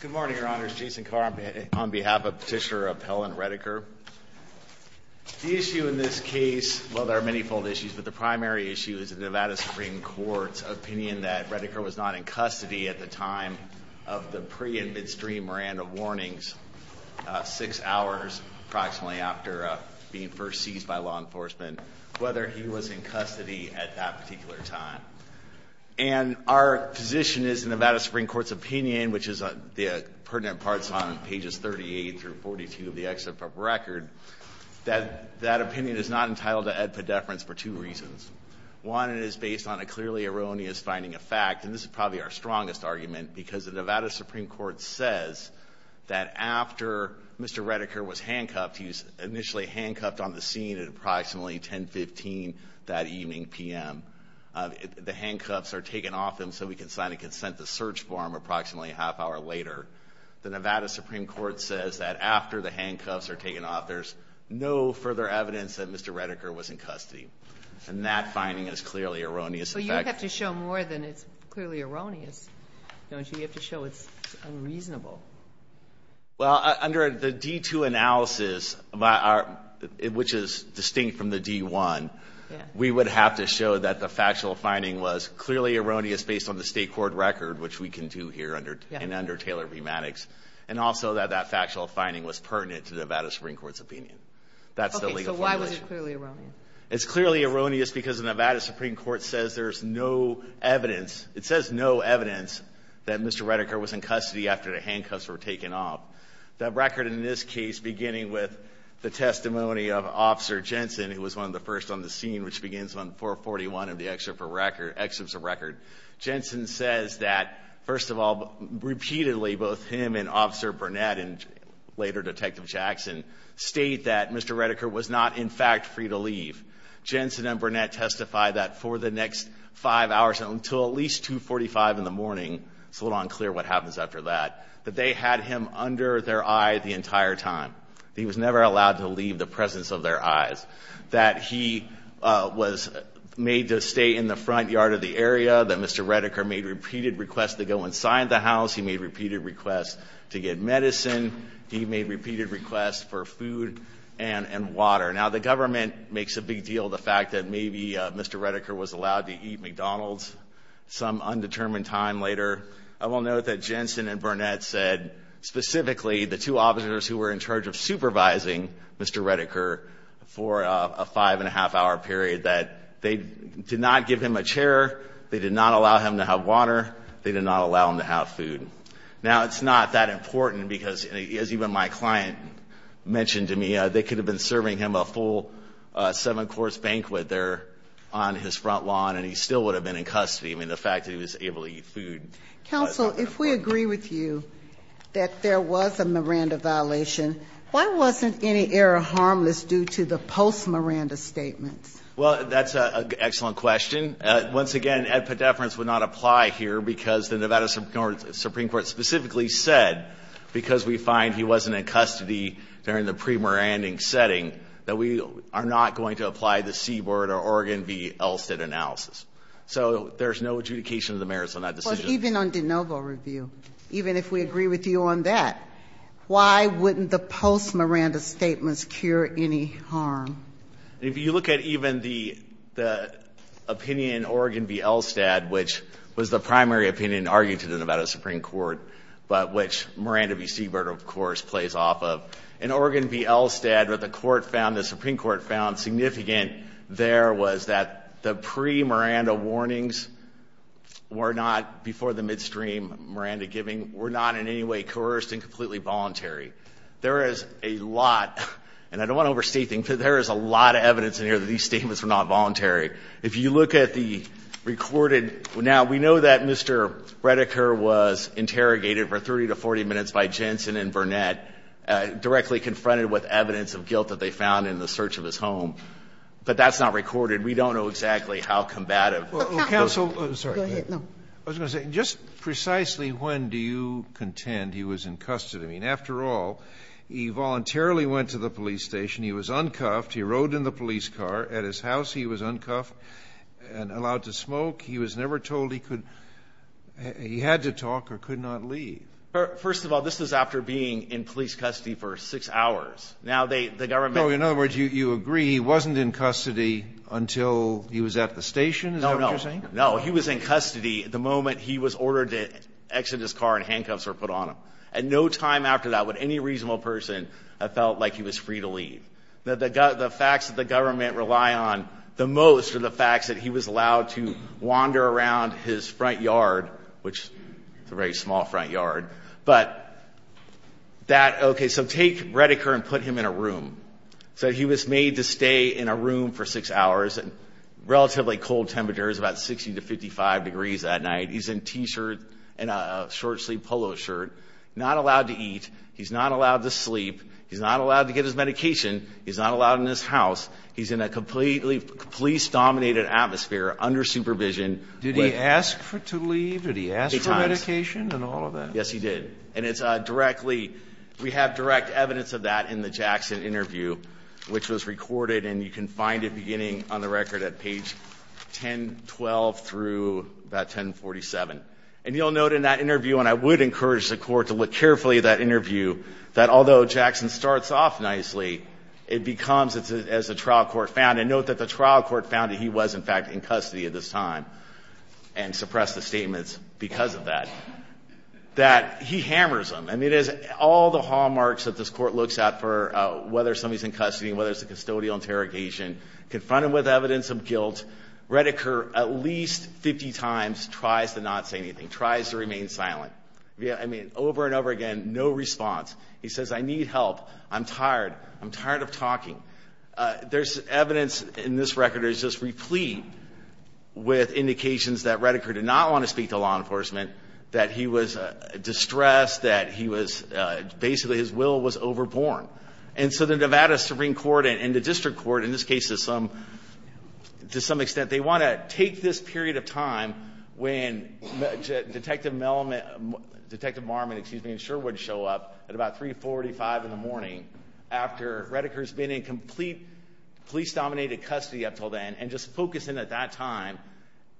Good morning, Your Honors. Jason Carr on behalf of Petitioner Appellant Redeker. The issue in this case, well, there are many fold issues, but the primary issue is the Nevada Supreme Court's opinion that Redeker was not in custody at the time of the pre and midstream Miranda warnings, six hours approximately after being first seized by law enforcement, whether he was in custody at that particular time. And our position is the Nevada Supreme Court's opinion, which is pertinent parts on pages 38 through 42 of the excerpt of record, that that opinion is not entitled to ad pedeference for two reasons. One, it is based on a clearly erroneous finding of fact, and this is probably our strongest argument, because the Nevada Supreme Court says that after Mr. Redeker was handcuffed, he was initially handcuffed on the scene at approximately 1015 that evening PM. The handcuffs are taken off him so we can sign a consent to search for him a half hour later. The Nevada Supreme Court says that after the handcuffs are taken off, there's no further evidence that Mr. Redeker was in custody. And that finding is clearly erroneous. So you have to show more than it's clearly erroneous, don't you? You have to show it's unreasonable. Well, under the D2 analysis, which is distinct from the D1, we would have to show that the factual finding was clearly erroneous based on the state court record, which we can do here and under Taylor-B. Maddox, and also that that factual finding was pertinent to the Nevada Supreme Court's opinion. That's the legal formulation. OK, so why was it clearly erroneous? It's clearly erroneous because the Nevada Supreme Court says there's no evidence. It says no evidence that Mr. Redeker was in custody after the handcuffs were taken off. That record in this case, beginning with the testimony of Officer Jensen, who was one of the first on the scene, which begins on 441 of the excerpts of record, Jensen says that, first of all, repeatedly, both him and Officer Burnett, and later Detective Jackson, state that Mr. Redeker was not, in fact, free to leave. Jensen and Burnett testify that for the next five hours until at least 245 in the morning, it's a little unclear what happens after that, that they had him under their eye the entire time. He was never allowed to leave the presence of their eyes. That he was made to stay in the front yard of the area. That Mr. Redeker made repeated requests to go inside the house. He made repeated requests to get medicine. He made repeated requests for food and water. Now the government makes a big deal of the fact that maybe Mr. Redeker was allowed to eat McDonald's some undetermined time later. I will note that Jensen and Burnett said, specifically, the two officers who were in charge of supervising Mr. Redeker for a five and a half hour period, that they did not give him a chair. They did not allow him to have water. They did not allow him to have food. Now it's not that important, because as even my client mentioned to me, they could have been serving him a full seven-course banquet there on his front lawn, and he still would have been in custody. I mean, the fact that he was able to eat food. Counsel, if we agree with you that there was a Miranda violation, why wasn't any error harmless due to the post-Miranda statements? Well, that's an excellent question. Once again, Ed Pedefrans would not apply here, because the Nevada Supreme Court specifically said, because we find he wasn't in custody during the pre-Miranda setting, that we are not going to apply the Seaboard or Oregon v. Elstead analysis. So there's no adjudication of the merits on that decision. But even on de novo review, even if we agree with you on that, why wouldn't the post-Miranda statements cure any harm? If you look at even the opinion in Oregon v. Elstead, which was the primary opinion argued to the Nevada Supreme Court, but which Miranda v. Seaboard, of course, plays off of. In Oregon v. Elstead, what the Supreme Court found significant there was that the pre-Miranda warnings were not, before the midstream Miranda giving, were not in any way coerced and completely voluntary. There is a lot, and I don't want to overstate things, but there is a lot of evidence in here that these statements were not voluntary. If you look at the recorded, now, we know that Mr. Redeker was interrogated for 30 to 40 minutes by Jensen and Burnett, directly confronted with evidence of guilt that they found in the search of his home. But that's not recorded. We don't know exactly how combative. Well, counsel, just precisely when do you contend he was in custody? I mean, after all, he voluntarily went to the police station. He was uncuffed. He rode in the police car. At his house, he was uncuffed and allowed to smoke. He was never told he could, he had to talk or could not leave. First of all, this is after being in police custody for six hours. Now, the government- No, in other words, you agree he wasn't in custody until he was at the station? Is that what you're saying? No, he was in custody the moment he was ordered to exit his car and handcuffs were put on him. At no time after that would any reasonable person have felt like he was free to leave. The facts that the government rely on the most are the facts that he was allowed to wander around his front yard, which is a very small front yard. But that, OK, so take Redeker and put him in a room. So he was made to stay in a room for six hours at relatively cold temperatures, about 60 to 55 degrees that night. He's in a t-shirt and a short-sleeved polo shirt, not allowed to eat. He's not allowed to sleep. He's not allowed to get his medication. He's not allowed in his house. He's in a completely police-dominated atmosphere under supervision. Did he ask to leave? Did he ask for medication and all of that? Yes, he did. And it's directly, we have direct evidence of that in the Jackson interview, which was recorded. And you can find it beginning on the record at page 1012 through about 1047. And you'll note in that interview, and I would interview, that although Jackson starts off nicely, it becomes, as the trial court found, and note that the trial court found that he was, in fact, in custody at this time and suppressed the statements because of that, that he hammers him. I mean, it is all the hallmarks that this court looks at for whether somebody's in custody, whether it's a custodial interrogation, confronted with evidence of guilt. Redeker, at least 50 times, tries to not say anything, tries to remain silent. I mean, over and over again, no response. He says, I need help. I'm tired. I'm tired of talking. There's evidence in this record that is just replete with indications that Redeker did not want to speak to law enforcement, that he was distressed, that he was, basically, his will was overborne. And so the Nevada Supreme Court and the district court, in this case, to some extent, they want to take this period of time when Detective Marmon and Sherwood show up at about 345 in the morning after Redeker's been in complete police-dominated custody up until then, and just focus in at that time,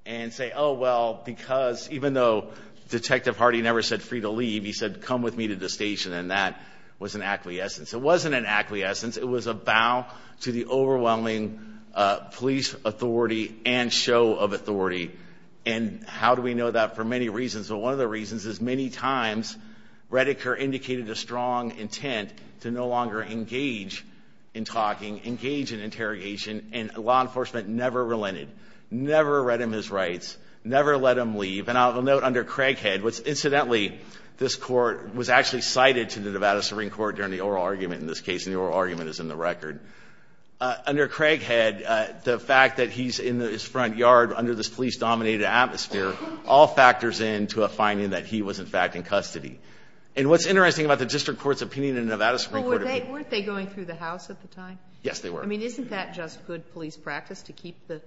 and say, oh, well, because even though Detective Hardy never said, free to leave, he said, come with me to the station. And that was an acquiescence. It wasn't an acquiescence. It was a bow to the overwhelming police authority and show of authority. And how do we know that? For many reasons. But one of the reasons is, many times, Redeker indicated a strong intent to no longer engage in talking, engage in interrogation. And law enforcement never relented, never read him his rights, never let him leave. And I will note, under Craighead, which, incidentally, this court was actually cited to the Nevada Supreme Court during the oral argument in this case. And the oral argument is in the record. Under Craighead, the fact that he's in his front yard under this police-dominated atmosphere all factors in to a finding that he was, in fact, in custody. And what's interesting about the district court's opinion in Nevada Supreme Court. Weren't they going through the house at the time? Yes, they were. Isn't that just good police practice, to keep the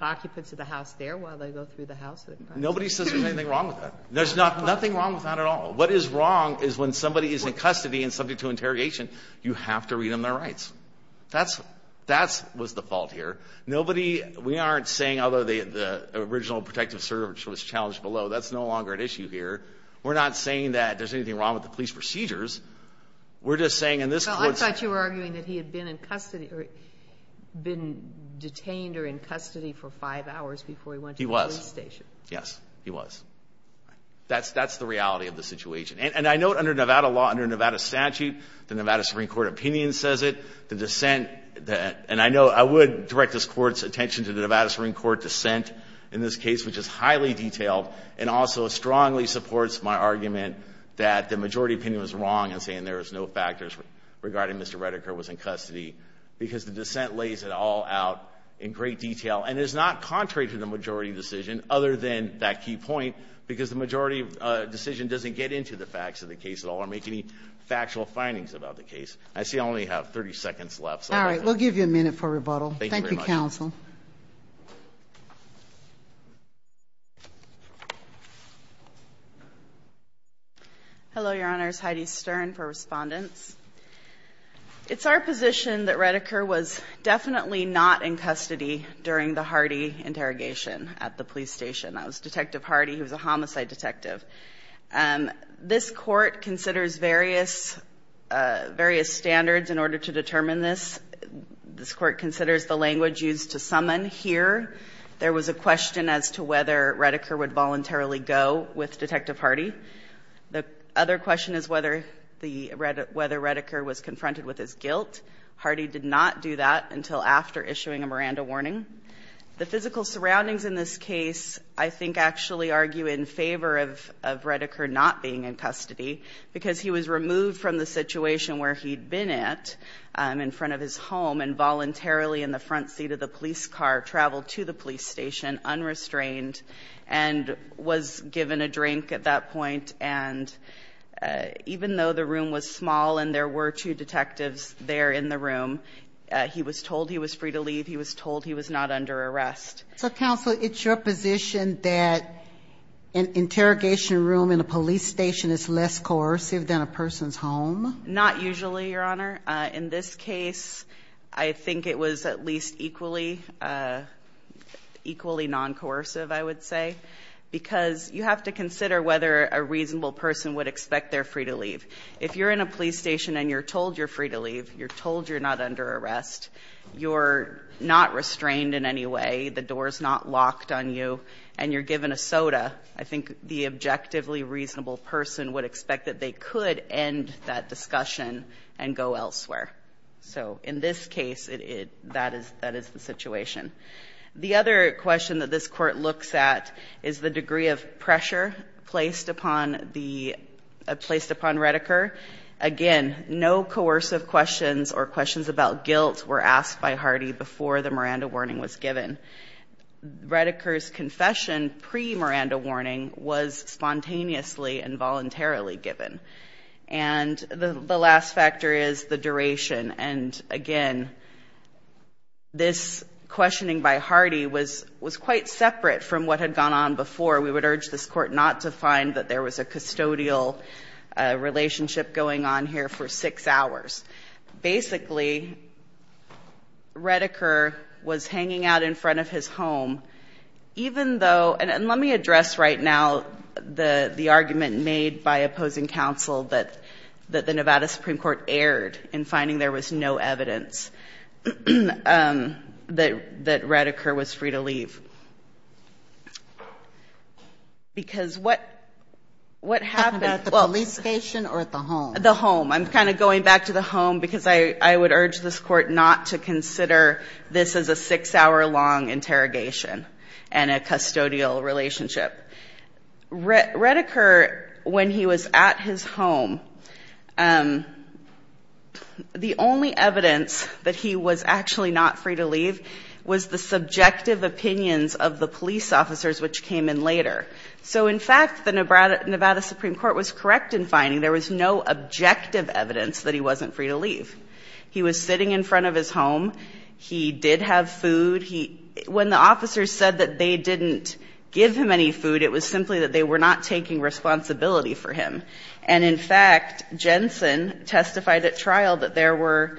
occupants of the house there while they go through the house? Nobody says there's anything wrong with that. There's nothing wrong with that at all. What is wrong is when somebody is in custody and subject to interrogation, you have to read them their rights. That was the fault here. Nobody, we aren't saying, although the original protective service was challenged below, that's no longer an issue here. We're not saying that there's anything wrong with the police procedures. We're just saying in this court's. I thought you were arguing that he had been in custody, been detained or in custody for five hours before he went to the police station. Yes, he was. That's the reality of the situation. And I note, under Nevada law, under Nevada statute, the Nevada Supreme Court opinion says it. The dissent, and I know I would direct this court's attention to the Nevada Supreme Court dissent in this case, which is highly detailed, and also strongly supports my argument that the majority opinion was wrong in saying there was no factors regarding Mr. Redeker was in custody, because the dissent lays it all out in great detail. And it is not contrary to the majority decision, other than that key point, because the majority decision doesn't get into the facts of the case at all or make any factual findings about the case. I see I only have 30 seconds left, so. All right, we'll give you a minute for rebuttal. Thank you, counsel. Hello, Your Honors. Heidi Stern for respondents. It's our position that Redeker was definitely not in custody during the Hardy interrogation at the police station. That was Detective Hardy, who was a homicide detective. This court considers various standards in order to determine this. This court considers the language used to summon here. There was a question as to whether Redeker would voluntarily go with Detective Hardy. The other question is whether Redeker was confronted with his guilt. Hardy did not do that until after issuing a Miranda warning. The physical surroundings in this case, I think, actually argue in favor of Redeker not being in custody, because he was removed from the situation where he'd been at in front of his home and voluntarily in the front seat of the police car traveled to the police station unrestrained and was given a drink at that point. And even though the room was small and there were two detectives there in the room, he was told he was free to leave. He was told he was not under arrest. So counsel, it's your position that an interrogation room in a police station is less coercive than a person's home? Not usually, Your Honor. In this case, I think it was at least equally non-coercive, I would say, because you have to consider whether a reasonable person would expect they're free to leave. If you're in a police station and you're told you're free to leave, you're told you're not under arrest, you're not restrained in any way, the door's not locked on you, and you're given a soda, I think the objectively reasonable person would expect that they could end that discussion and go elsewhere. So in this case, that is the situation. The other question that this court looks at is the degree of pressure placed upon Redeker. Again, no coercive questions or questions about guilt were asked by Hardy before the Miranda warning was given. Redeker's confession pre-Miranda warning was spontaneously and voluntarily given. And the last factor is the duration. And again, this questioning by Hardy was quite separate from what had gone on before. We would urge this court not to find that there was a custodial relationship going on here for six hours. Basically, Redeker was hanging out in front of his home, even though, and let me address right now the argument made by opposing counsel that the Nevada Supreme Court erred in finding there was no evidence that Redeker was free to leave. Because what happened at the police station or at the home? The home. I'm kind of going back to the home because I would urge this court not to consider this as a six-hour long interrogation and a custodial relationship. Redeker, when he was at his home, the only evidence that he was actually not free to leave was the subjective opinions of the police officers, which came in later. So in fact, the Nevada Supreme Court was correct in finding there was no objective evidence that he wasn't free to leave. He was sitting in front of his home. He did have food. When the officers said that they didn't give him any food, it was simply that they were not taking responsibility for him. And in fact, Jensen testified at trial that there were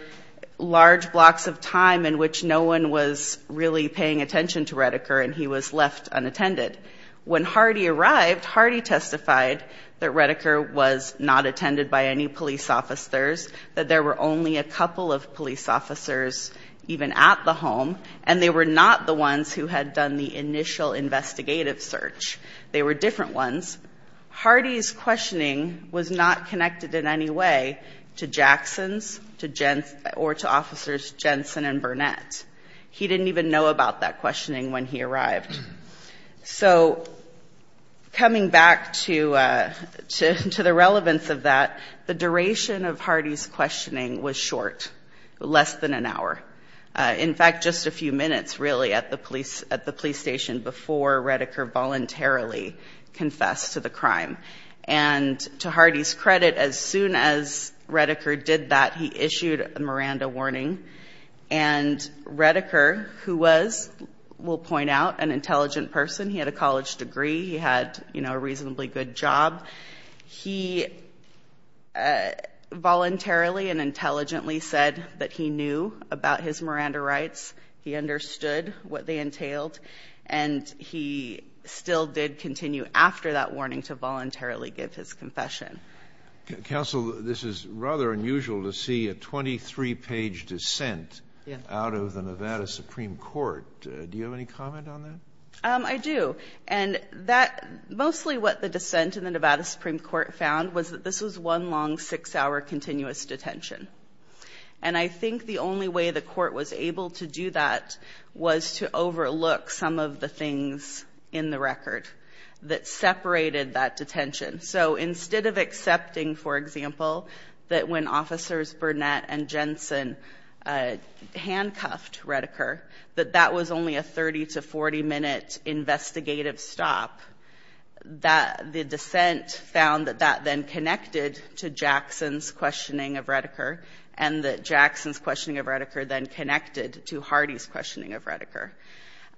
large blocks of time in which no one was really paying attention to Redeker and he was left unattended. When Hardy arrived, Hardy testified that Redeker was not attended by any police officers, that there were only a couple of police officers even at the home, and they were not the ones who had done the initial investigative search. They were different ones. Hardy's questioning was not connected in any way to Jackson's or to officers Jensen and Burnett. He didn't even know about that questioning when he arrived. So coming back to the relevance of that, the duration of Hardy's questioning was short, less than an hour. In fact, just a few minutes really at the police station before Redeker voluntarily confessed to the crime. And to Hardy's credit, as soon as Redeker did that, he issued a Miranda warning. And Redeker, who was, we'll point out, an intelligent person. He had a college degree. He had a reasonably good job. He voluntarily and intelligently said that he knew about his Miranda rights. He understood what they entailed. And he still did continue after that warning to voluntarily give his confession. Counsel, this is rather unusual to see a 23-page dissent out of the Nevada Supreme Court. Do you have any comment on that? I do. And mostly what the dissent in the Nevada Supreme Court found was that this was one long six-hour continuous detention. And I think the only way the court was able to do that was to overlook some of the things in the record that separated that detention. So instead of accepting, for example, that when officers Burnett and Jensen handcuffed Redeker, that that was only a 30- to 40-minute investigative stop, that the dissent found that that then connected to Jackson's questioning of Redeker and that Jackson's questioning of Redeker then connected to Hardy's questioning of Redeker.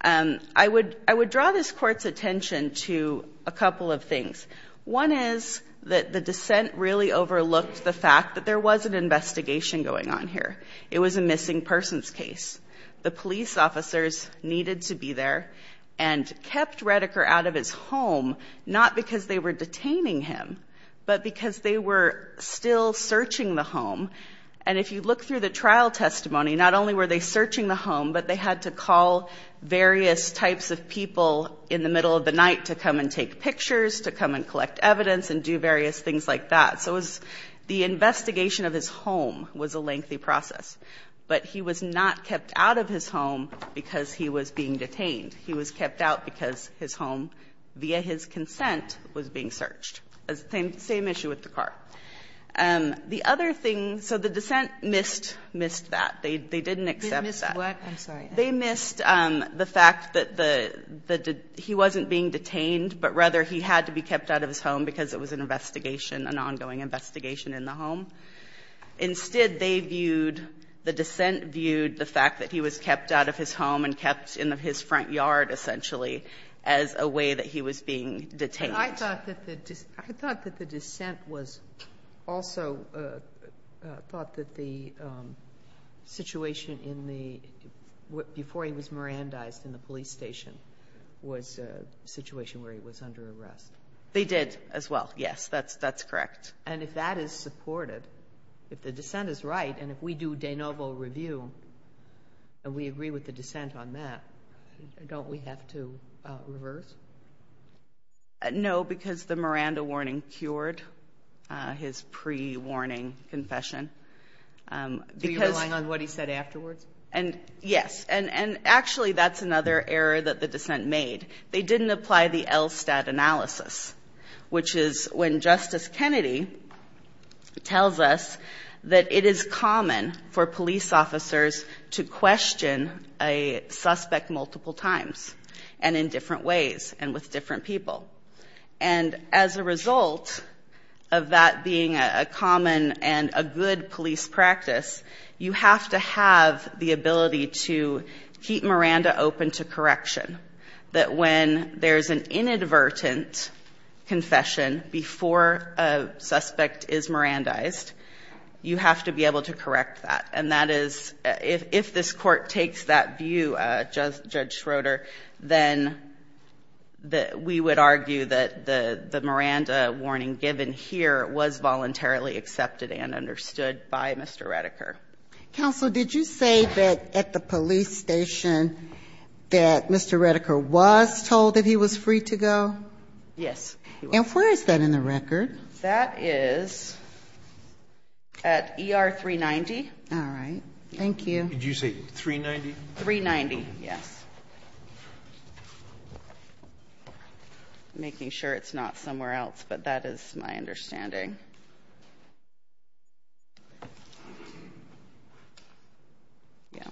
I would draw this court's attention to a couple of things. One is that the dissent really overlooked the fact that there was an investigation going on here. It was a missing persons case. The police officers needed to be there and kept Redeker out of his home, not because they were detaining him, but because they were still searching the home. And if you look through the trial testimony, not only were they searching the home, but they had to call various types of people in the middle of the night to come and take pictures, to come and collect evidence, and do various things like that. So the investigation of his home was a lengthy process. But he was not kept out of his home because he was being detained. He was kept out because his home, via his consent, was being searched. Same issue with the car. The other thing, so the dissent missed that. They didn't accept that. They missed the fact that he wasn't being detained, but rather he had to be kept out of his home because it was an investigation, an ongoing investigation in the home. Instead, they viewed, the dissent viewed, the fact that he was kept out of his home and kept in his front yard, essentially, as a way that he was being detained. But I thought that the dissent was also thought that the situation before he was Mirandized in the police station was a situation where he was under arrest. They did, as well. Yes, that's correct. And if that is supported, if the dissent is right, and if we do de novo review, and we agree with the dissent on that, don't we have to reverse? No, because the Miranda warning cured his pre-warning confession. Are you relying on what he said afterwards? Yes, and actually, that's another error that the dissent made. They didn't apply the ELSTAT analysis, which is when Justice Kennedy tells us that it is common for police officers to question a suspect multiple times, and in different ways, and with different people. And as a result of that being a common and a good police practice, you have to have the ability to keep Miranda open to correction, that when there is an inadvertent confession before a suspect is Mirandized, you have to be able to correct that. And that is, if this court takes that view, Judge Schroeder, then we would argue that the Miranda warning given here was voluntarily accepted and understood by Mr. Redeker. Counsel, did you say that at the police station that Mr. Redeker was told that he was free to go? Yes. And where is that in the record? That is at ER 390. All right, thank you. Did you say 390? 390, yes. Making sure it's not somewhere else, but that is my understanding. Yeah.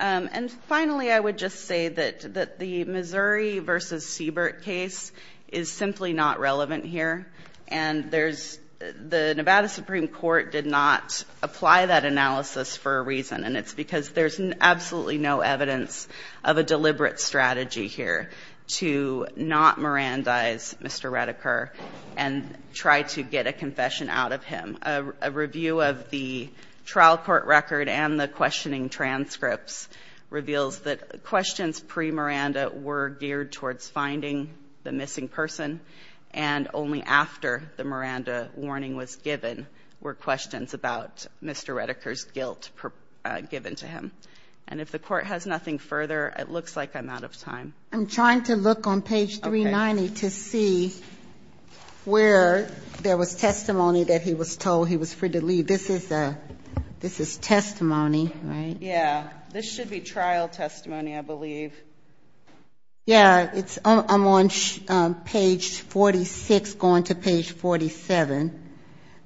And finally, I would just say that the Missouri versus Seabirt case is simply not relevant here. And the Nevada Supreme Court did not apply that analysis for a reason. And it's because there's absolutely no evidence of a deliberate strategy here to not Mirandize Mr. Redeker and try to get a conviction. And I'm not going to read the confession out of him. A review of the trial court record and the questioning transcripts reveals that questions pre-Miranda were geared towards finding the missing person. And only after the Miranda warning was given were questions about Mr. Redeker's guilt given to him. And if the court has nothing further, it looks like I'm out of time. I'm trying to look on page 390 to see where there was testimony that he was told he was free to leave. This is testimony, right? Yeah, this should be trial testimony, I believe. Yeah, I'm on page 46 going to page 47.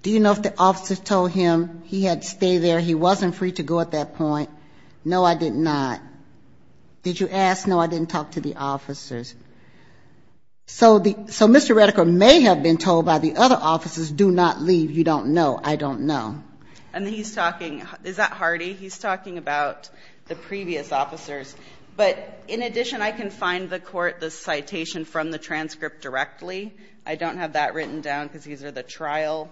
Do you know if the officer told him he had to stay there, he wasn't free to go at that point? No, I did not. Did you ask? No, I didn't talk to the officers. So Mr. Redeker may have been told by the other officers, do not leave. You don't know. I don't know. And he's talking, is that Hardy? He's talking about the previous officers. But in addition, I can find the court the citation from the transcript directly. I don't have that written down because these are the trial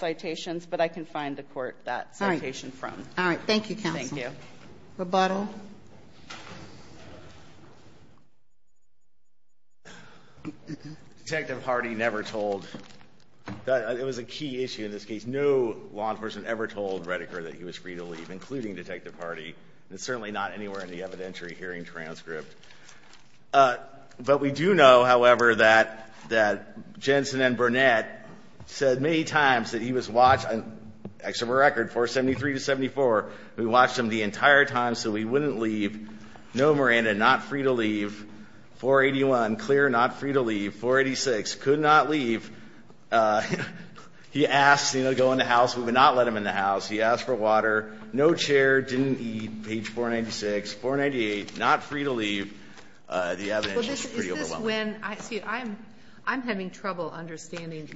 citations. But I can find the court that citation from. All right, thank you, counsel. Thank you. Rebuttal. Detective Hardy never told. It was a key issue in this case. No law enforcement ever told Redeker that he was free to leave, including Detective Hardy. It's certainly not anywhere in the evidentiary hearing transcript. But we do know, however, that Jensen and Burnett said many times that he was watched, and extra record, 473 to 74, we watched him the entire time so he wouldn't leave. No, Miranda, not free to leave. 481, clear, not free to leave. 486, could not leave. He asked to go in the house. We would not let him in the house. He asked for water. No chair, didn't eat, page 496. 498, not free to leave. The evidence is pretty overwhelming. See, I'm having trouble understanding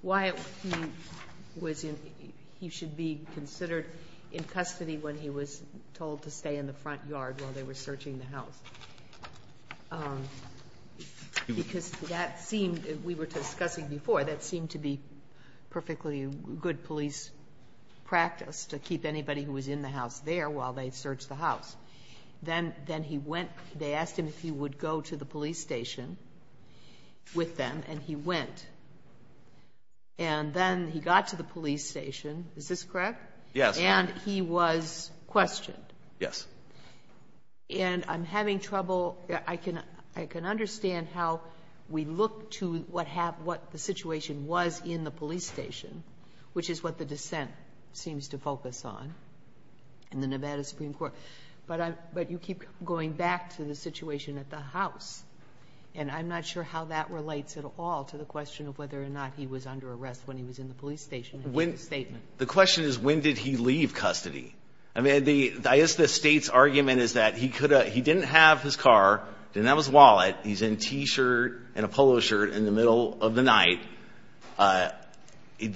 why he should be considered in custody when he was told to stay in the front yard while they were searching the house. Because that seemed, we were discussing before, that seemed to be perfectly good police practice to keep anybody who was in the house there while they searched the house. Then he went, they asked him if he would go to the police station with them, and he went. And then he got to the police station. Is this correct? Yes. And he was questioned. Yes. And I'm having trouble, I can understand how we look to what the situation was in the police station, which is what the dissent seems to focus on in the Nevada Supreme Court. But you keep going back to the situation at the house, and I'm not sure how that relates at all to the question of whether or not he was under arrest when he was in the police station in his statement. The question is, when did he leave custody? I mean, I guess the state's argument is that he didn't have his car, didn't have his wallet. He's in a t-shirt and a polo shirt in the middle of the night.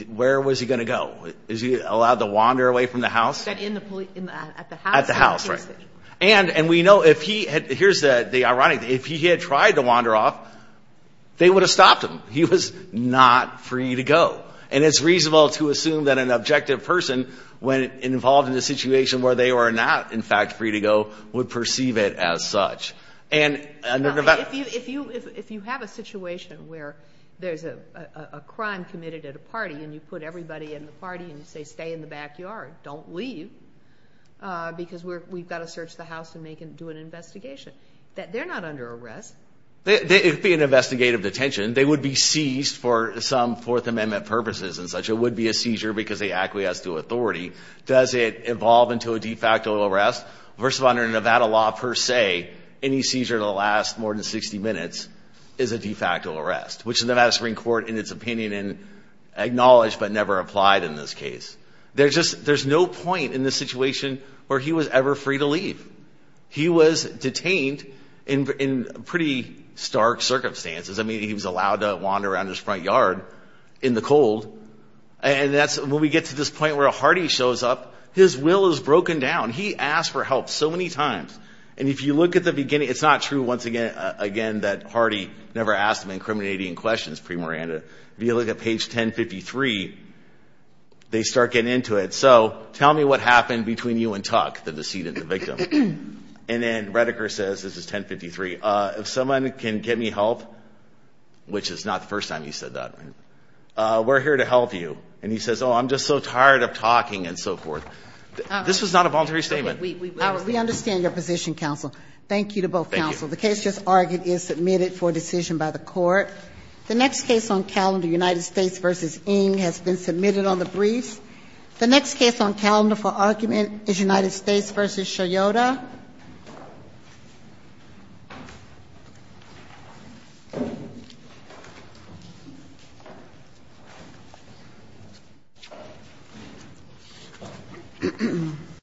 Where was he going to go? Is he allowed to wander away from the house? That in the police, at the house. At the house, right. And we know if he had, here's the ironic, if he had tried to wander off, they would have stopped him. He was not free to go. And it's reasonable to assume that an objective person, when involved in a situation where they were not, in fact, free to go, would perceive it as such. And if you have a situation where there's a crime committed at a party, and you put everybody in the party, and you say, stay in the backyard, don't leave, because we've got to search the house and do an investigation, that they're not under arrest. It would be an investigative detention. They would be seized for some Fourth Amendment purposes and such. It would be a seizure because they acquiesced to authority. Does it evolve into a de facto arrest, versus under Nevada law, per se, any seizure that lasts more than 60 minutes is a de facto arrest, which the Nevada Supreme Court, in its opinion, and acknowledged, but never applied in this case. There's no point in this situation where he was ever free to leave. He was detained in pretty stark circumstances. I mean, he was allowed to wander around his front yard in the cold. And when we get to this point where a hardy shows up, his will is broken down. He asked for help so many times. And if you look at the beginning, it's not true, once again, that Hardy never asked him incriminating questions, pre-Miranda. If you look at page 1053, they start getting into it. So tell me what happened between you and Tuck, the decedent, the victim. And then Redeker says, this is 1053, if someone can get me help, which is not the first time you said that, we're here to help you. And he says, oh, I'm just so tired of talking, and so forth. This was not a voluntary statement. We understand your position, counsel. Thank you to both counsel. The case just argued is submitted for decision by the court. The next case on calendar, United States v. Ng, has been submitted on the briefs. The next case on calendar for argument is United States v. Sciotta. Ahem.